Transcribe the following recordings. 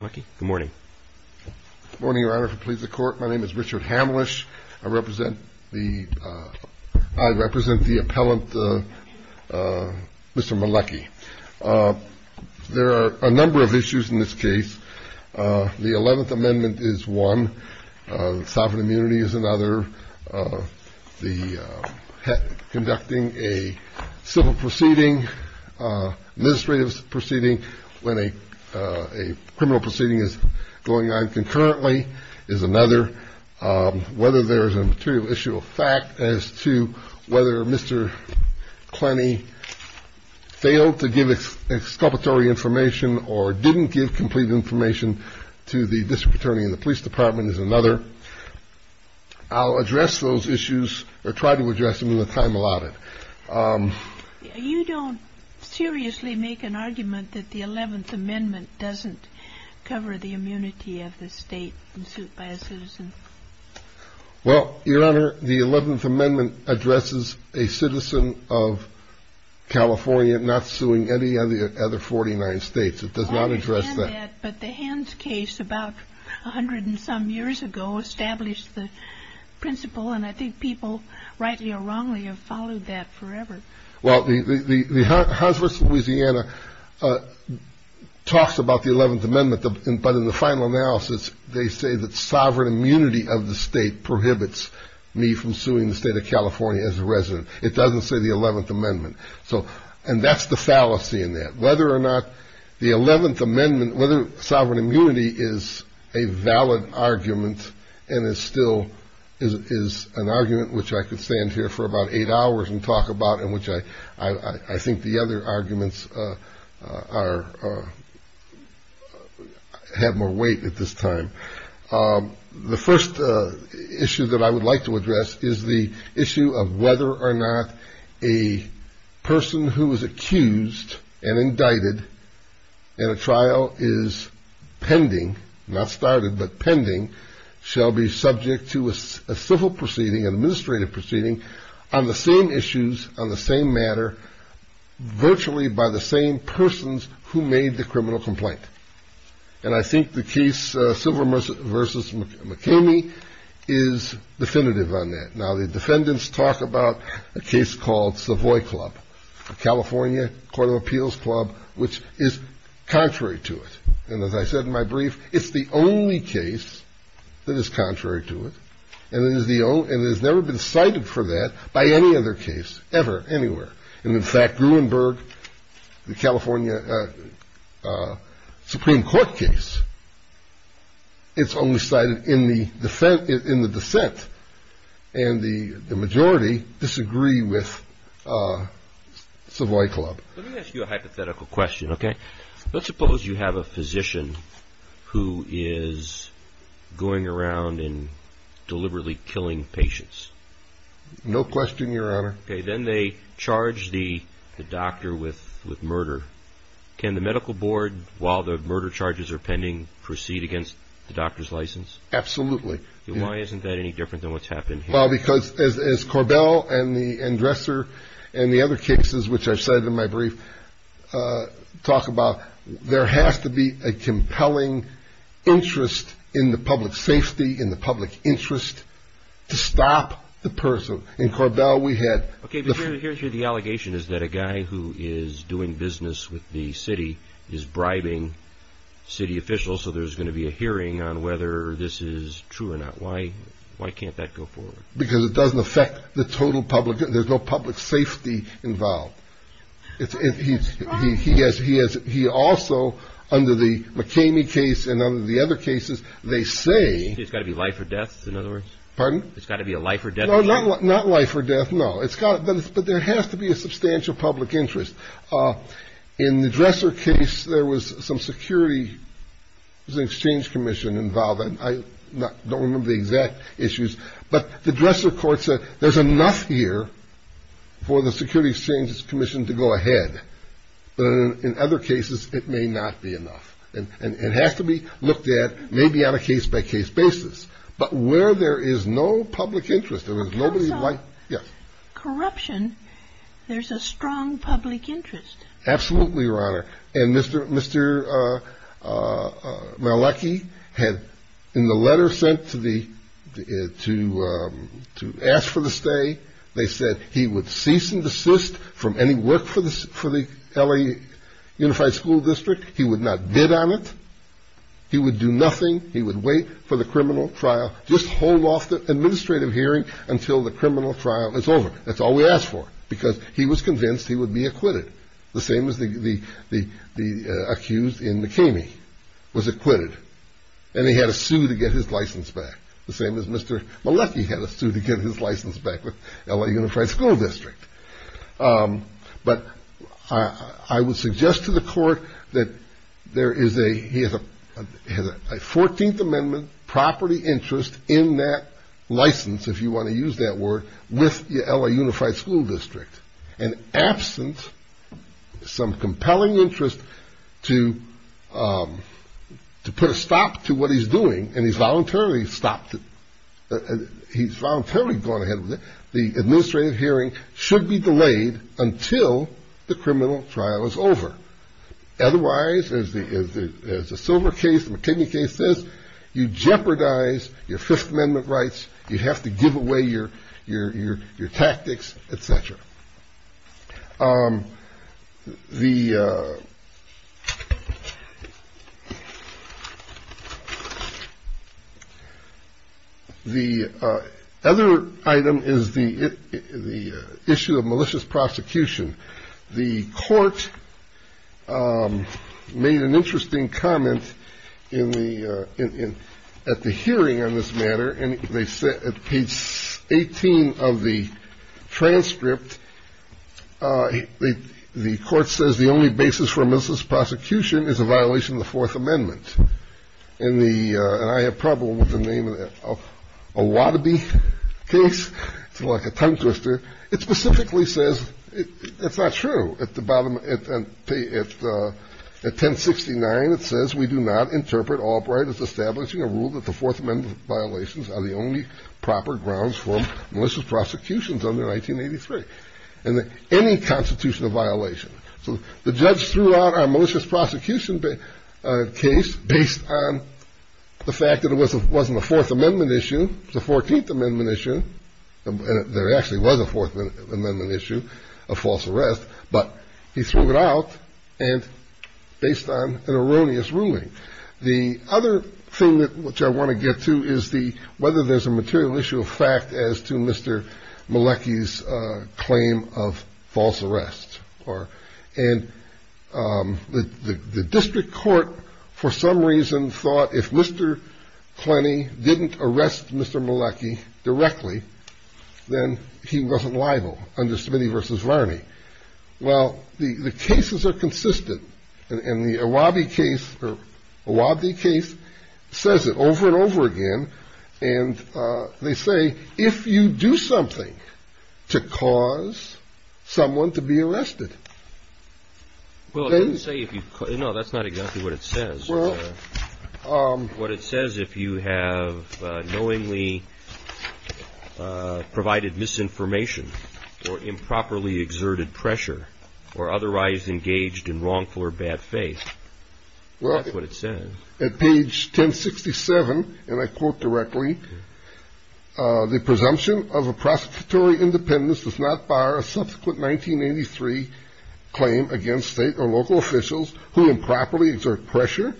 Good morning. Good morning, Your Honor. If it pleases the Court, my name is Richard Hamlisch. I represent the, I represent the appellant, Mr. Meleki. There are a number of issues in this case. The Eleventh Amendment is one. Sovereign Immunity is another. Conducting a civil proceeding, administrative proceeding when a criminal proceeding is going on concurrently is another. Whether there is a material issue of fact as to whether Mr. Klenny failed to give exculpatory information or didn't give complete information to the district attorney in the police department is another. I'll address those issues or try to address them in the time allotted. You don't seriously make an argument that the Eleventh Amendment doesn't cover the immunity of the state in suit by a citizen? Well, Your Honor, the Eleventh Amendment addresses a citizen of California not suing any of the other 49 states. It does not address that. But the Hands case about a hundred and some years ago established the principle, and I think people, rightly or wrongly, have followed that forever. Well, the Hunsworth, Louisiana, talks about the Eleventh Amendment, but in the final analysis, they say that sovereign immunity of the state prohibits me from suing the state of California as a resident. It doesn't say the Eleventh Amendment, and that's the fallacy in that. Whether or not the Eleventh Amendment, whether sovereign immunity is a valid argument and is still an argument which I could stand here for about eight hours and talk about and which I think the other arguments have more weight at this time. The first issue that I would like to address is the issue of whether or not a person who is accused and indicted in a trial is pending, not started, but pending, shall be subject to a civil proceeding, an administrative proceeding, on the same issues, on the same matter, virtually by the same persons who made the criminal complaint. And I think the case, Silver v. McKamey, is definitive on that. Now, the defendants talk about a case called Savoy Club, California Court of Appeals Club, which is contrary to it. And as I said in my brief, it's the only case that is contrary to it, and it has never been cited for that by any other case ever, anywhere. And in fact, Gruenberg, the California Supreme Court case, it's only cited in the dissent, and the majority disagree with Savoy Club. Let me ask you a hypothetical question, okay? Let's suppose you have a physician who is going around and deliberately killing patients. No question, Your Honor. Okay, then they charge the doctor with murder. Can the medical board, while the murder charges are pending, proceed against the doctor's license? Absolutely. Why isn't that any different than what's happened here? Well, because as Korbel and Dresser and the other cases which I've cited in my brief talk about, there has to be a compelling interest in the public safety, in the public interest, to stop the person. In Korbel, we had... Okay, but here's the allegation, is that a guy who is doing business with the city is bribing city officials, so there's going to be a hearing on whether this is true or not. Why can't that go forward? Because it doesn't affect the total public. There's no public safety involved. He also, under the McKamey case and under the other cases, they say... It's got to be life or death, in other words? Pardon? It's got to be a life or death hearing? No, not life or death, no. But there has to be a substantial public interest. In the Dresser case, there was some security, there was an exchange commission involved. I don't remember the exact issues. But the Dresser court said there's enough here for the security exchange commission to go ahead. But in other cases, it may not be enough. And it has to be looked at maybe on a case-by-case basis. But where there is no public interest, there is nobody like... Because of corruption, there's a strong public interest. Absolutely, Your Honor. And Mr. Malachy had, in the letter sent to ask for the stay, they said he would cease and desist from any work for the LA Unified School District. He would not bid on it. He would do nothing. He would wait for the criminal trial, just hold off the administrative hearing until the criminal trial is over. That's all we asked for, because he was convinced he would be acquitted, the same as the accused in McKamey was acquitted. And he had to sue to get his license back, the same as Mr. Malachy had to sue to get his license back with LA Unified School District. But I would suggest to the court that there is a... He has a 14th Amendment property interest in that license, if you want to use that word, with the LA Unified School District. And absent some compelling interest to put a stop to what he's doing, and he's voluntarily stopped it, he's voluntarily gone ahead with it, the administrative hearing should be delayed until the criminal trial is over. Otherwise, as the Silver case, the McKamey case says, you jeopardize your Fifth Amendment rights, you have to give away your tactics, et cetera. The other item is the issue of malicious prosecution. The court made an interesting comment at the hearing on this matter, and they said at page 18 of the transcript, the court says the only basis for malicious prosecution is a violation of the Fourth Amendment. And I have trouble with the name of that. A Watteby case, it's like a tongue twister. It specifically says, it's not true. At 1069, it says, we do not interpret Albright as establishing a rule that the Fourth Amendment violations are the only proper grounds for malicious prosecution until 1983, and any constitutional violation. So the judge threw out our malicious prosecution case based on the fact that it wasn't a Fourth Amendment issue, it was a 14th Amendment issue, and there actually was a Fourth Amendment issue of false arrest, but he threw it out based on an erroneous ruling. The other thing which I want to get to is whether there's a material issue of fact as to Mr. Malecki's claim of false arrest. And the district court, for some reason, thought if Mr. Klenny didn't arrest Mr. Malecki directly, then he wasn't liable under Smitty v. Varney. Well, the cases are consistent, and the Awabi case says it over and over again, and they say if you do something to cause someone to be arrested. No, that's not exactly what it says. What it says, if you have knowingly provided misinformation or improperly exerted pressure or otherwise engaged in wrongful or bad faith, that's what it says. At page 1067, and I quote directly, the presumption of a prosecutory independence does not bar a subsequent 1983 claim against state or local officials who improperly exert pressure,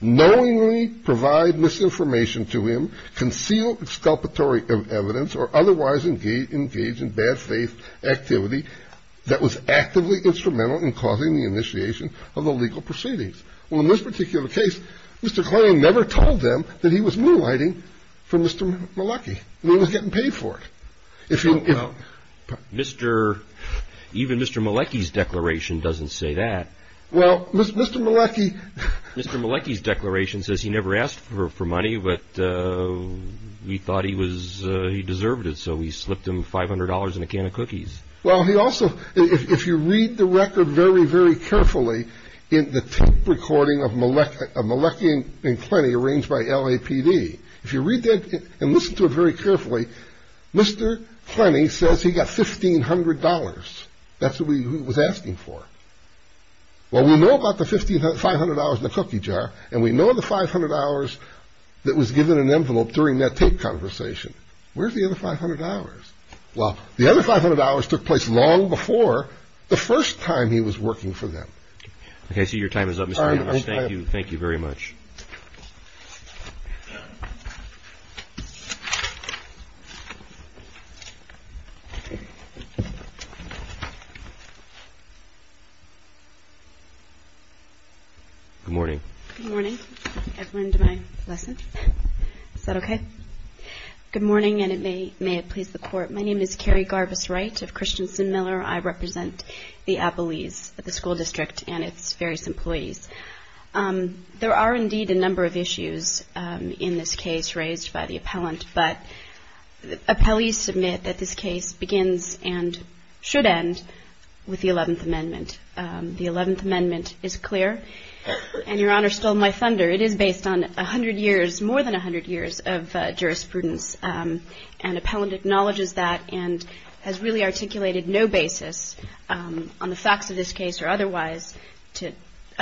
knowingly provide misinformation to him, conceal exculpatory evidence, or otherwise engage in bad faith activity that was actively instrumental in causing the initiation of illegal proceedings. Well, in this particular case, Mr. Klenny never told them that he was moonlighting for Mr. Malecki, and he was getting paid for it. Even Mr. Malecki's declaration doesn't say that. Well, Mr. Malecki... Mr. Malecki's declaration says he never asked for money, but we thought he deserved it, Well, he also, if you read the record very, very carefully, in the tape recording of Malecki and Klenny arranged by LAPD, if you read that and listen to it very carefully, Mr. Klenny says he got $1,500. That's what he was asking for. Well, we know about the $500 in the cookie jar, and we know the $500 that was given in an envelope during that tape conversation. Where's the other $500? Well, the other $500 took place long before the first time he was working for them. Okay, so your time is up, Mr. Klenny. Thank you very much. Good morning. Good morning, everyone, to my lesson. Is that okay? Good morning, and may it please the Court. My name is Carrie Garbus-Wright of Christensen Miller. I represent the appellees of the school district and its various employees. There are indeed a number of issues in this case raised by the appellant, but appellees submit that this case begins and should end with the Eleventh Amendment. The Eleventh Amendment is clear, and Your Honor stole my thunder. It is based on 100 years, more than 100 years of jurisprudence, and appellant acknowledges that and has really articulated no basis on the facts of this case or otherwise to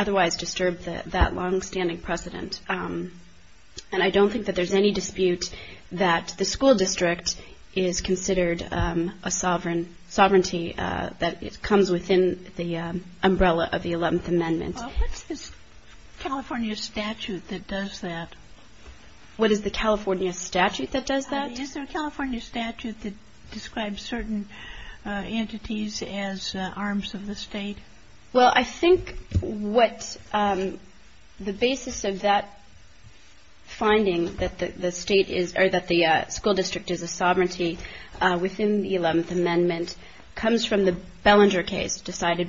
disturb that longstanding precedent. And I don't think that there's any dispute that the school district is considered a sovereignty that comes within the umbrella of the Eleventh Amendment. Well, what's this California statute that does that? What is the California statute that does that? Is there a California statute that describes certain entities as arms of the state? Well, I think what the basis of that finding, that the school district is a sovereignty within the Eleventh Amendment, and the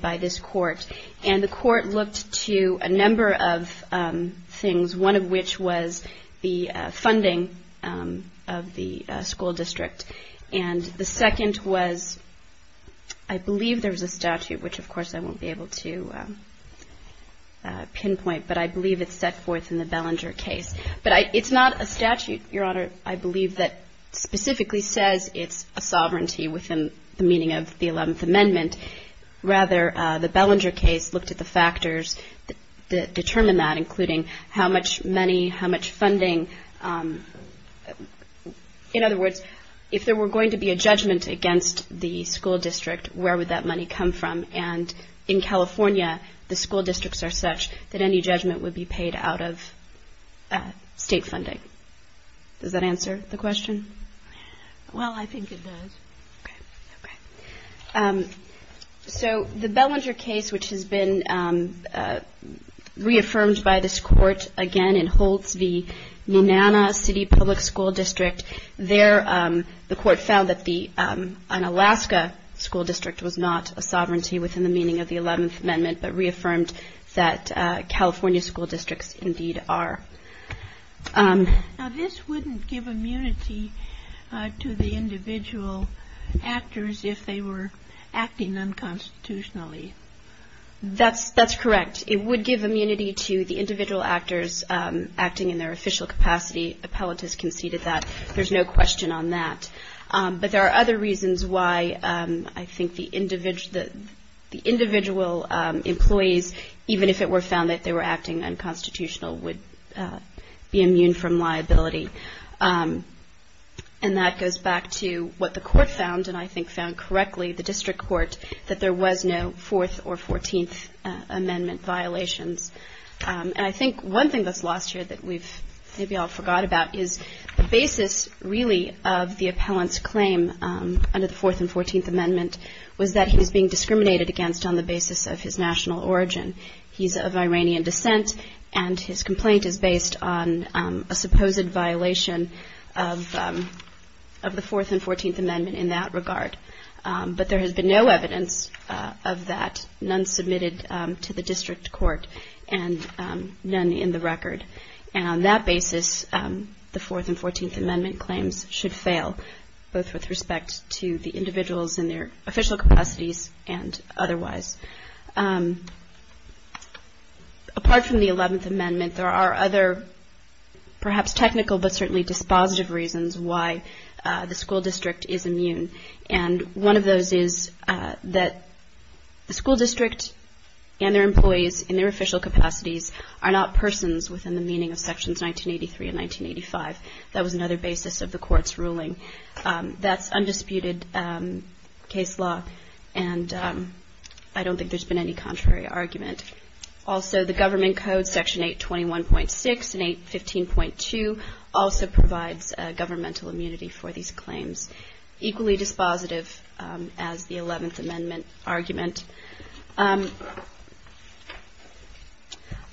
court looked to a number of things, one of which was the funding of the school district. And the second was, I believe there was a statute, which of course I won't be able to pinpoint, but I believe it's set forth in the Bellinger case. But it's not a statute, Your Honor, I believe, that specifically says it's a sovereignty within the meaning of the Eleventh Amendment. Rather, the Bellinger case looked at the factors that determine that, including how much money, how much funding. In other words, if there were going to be a judgment against the school district, where would that money come from? And in California, the school districts are such that any judgment would be paid out of state funding. Does that answer the question? Well, I think it does. Okay. So the Bellinger case, which has been reaffirmed by this court, again, in Holtz v. Nunanna City Public School District, there the court found that an Alaska school district was not a sovereignty within the meaning of the Eleventh Amendment, but reaffirmed that California school districts indeed are. Now, this wouldn't give immunity to the individual actors if they were acting unconstitutionally. That's correct. It would give immunity to the individual actors acting in their official capacity. Appellate has conceded that. There's no question on that. But there are other reasons why I think the individual employees, even if it were found that they were acting unconstitutional, would be immune from liability. And that goes back to what the court found, and I think found correctly, the district court, that there was no Fourth or Fourteenth Amendment violations. And I think one thing that's lost here that we've maybe all forgot about is the basis, really, of the appellant's claim under the Fourth and Fourteenth Amendment was that he was being discriminated against on the basis of his national origin. He's of Iranian descent, and his complaint is based on a supposed violation of the Fourth and Fourteenth Amendment in that regard. But there has been no evidence of that, none submitted to the district court, and none in the record. And on that basis, the Fourth and Fourteenth Amendment claims should fail, both with respect to the individuals in their official capacities and otherwise. Apart from the Eleventh Amendment, there are other, perhaps technical, but certainly dispositive reasons why the school district is immune. And one of those is that the school district and their employees in their official capacities are not persons within the meaning of Sections 1983 and 1985. That was another basis of the court's ruling. That's undisputed case law, and I don't think there's been any contrary argument. Also, the Government Code, Section 821.6 and 815.2, also provides governmental immunity for these claims, equally dispositive as the Eleventh Amendment argument.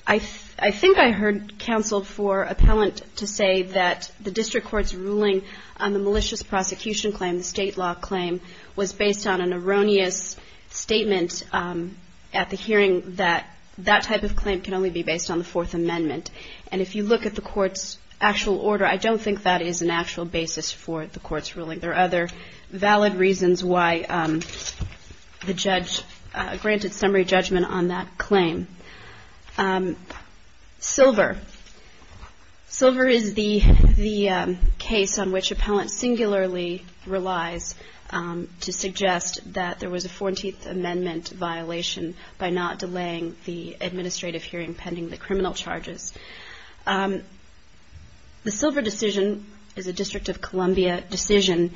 I think I heard counsel for appellant to say that the district court's ruling on the malicious prosecution claim, the state law claim, was based on an erroneous statement at the hearing that that type of claim can only be based on the Fourth Amendment. And if you look at the court's actual order, I don't think that is an actual basis for the court's ruling. There are other valid reasons why the judge granted summary judgment on that claim. Silver. Silver is the case on which appellant singularly relies to suggest that there was a Fourteenth Amendment violation by not delaying the administrative hearing pending the criminal charges. The Silver decision is a District of Columbia decision,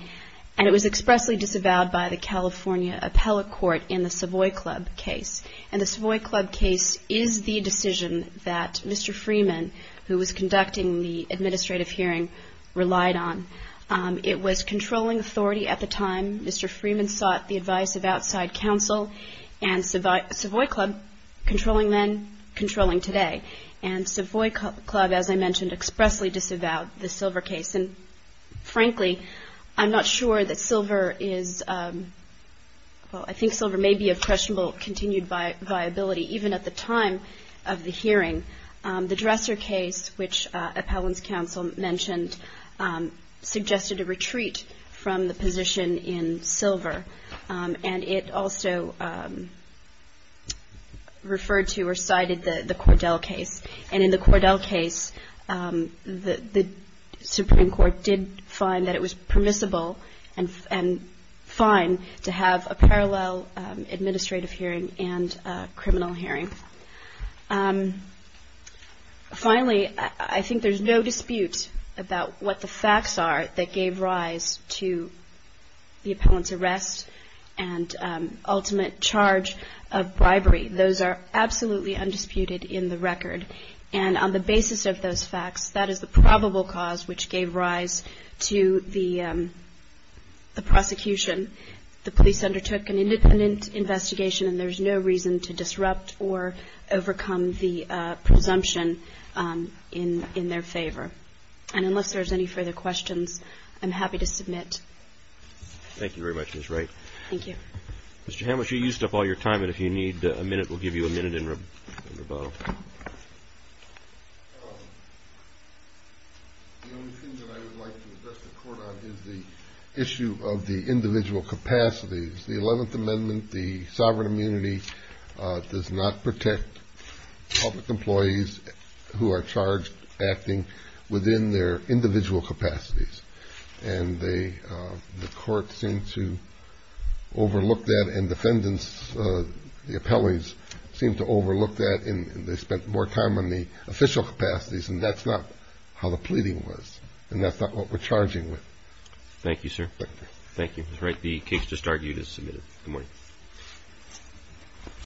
and it was expressly disavowed by the California Appellate Court in the Savoy Club case. And the Savoy Club case is the decision that Mr. Freeman, who was conducting the administrative hearing, relied on. It was controlling authority at the time. Mr. Freeman sought the advice of outside counsel, and Savoy Club, controlling then, controlling today. And Savoy Club, as I mentioned, expressly disavowed the Silver case. And frankly, I'm not sure that Silver is – well, I think Silver may be of questionable continued viability, even at the time of the hearing. The Dresser case, which appellant's counsel mentioned, suggested a retreat from the position in Silver. And it also referred to or cited the Cordell case. And in the Cordell case, the Supreme Court did find that it was permissible and fine to have a parallel administrative hearing and a criminal hearing. Finally, I think there's no dispute about what the facts are that gave rise to the appellant's arrest and ultimate charge of bribery. Those are absolutely undisputed in the record. And on the basis of those facts, that is the probable cause which gave rise to the prosecution. The police undertook an independent investigation, and there's no reason to disrupt or overcome the presumption in their favor. And unless there's any further questions, I'm happy to submit. Thank you very much, Ms. Wright. Thank you. Mr. Hamlisch, you used up all your time, and if you need a minute, we'll give you a minute in rebuttal. The only thing that I would like to address the Court on is the issue of the individual capacities. The Eleventh Amendment, the sovereign immunity, does not protect public employees who are charged acting within their individual capacities. And the Court seemed to overlook that, and defendants, the appellees, seemed to overlook that, and they spent more time on the official capacities, and that's not how the pleading was, and that's not what we're charging with. Thank you, sir. Thank you. Ms. Wright, the case just argued is submitted. Good morning.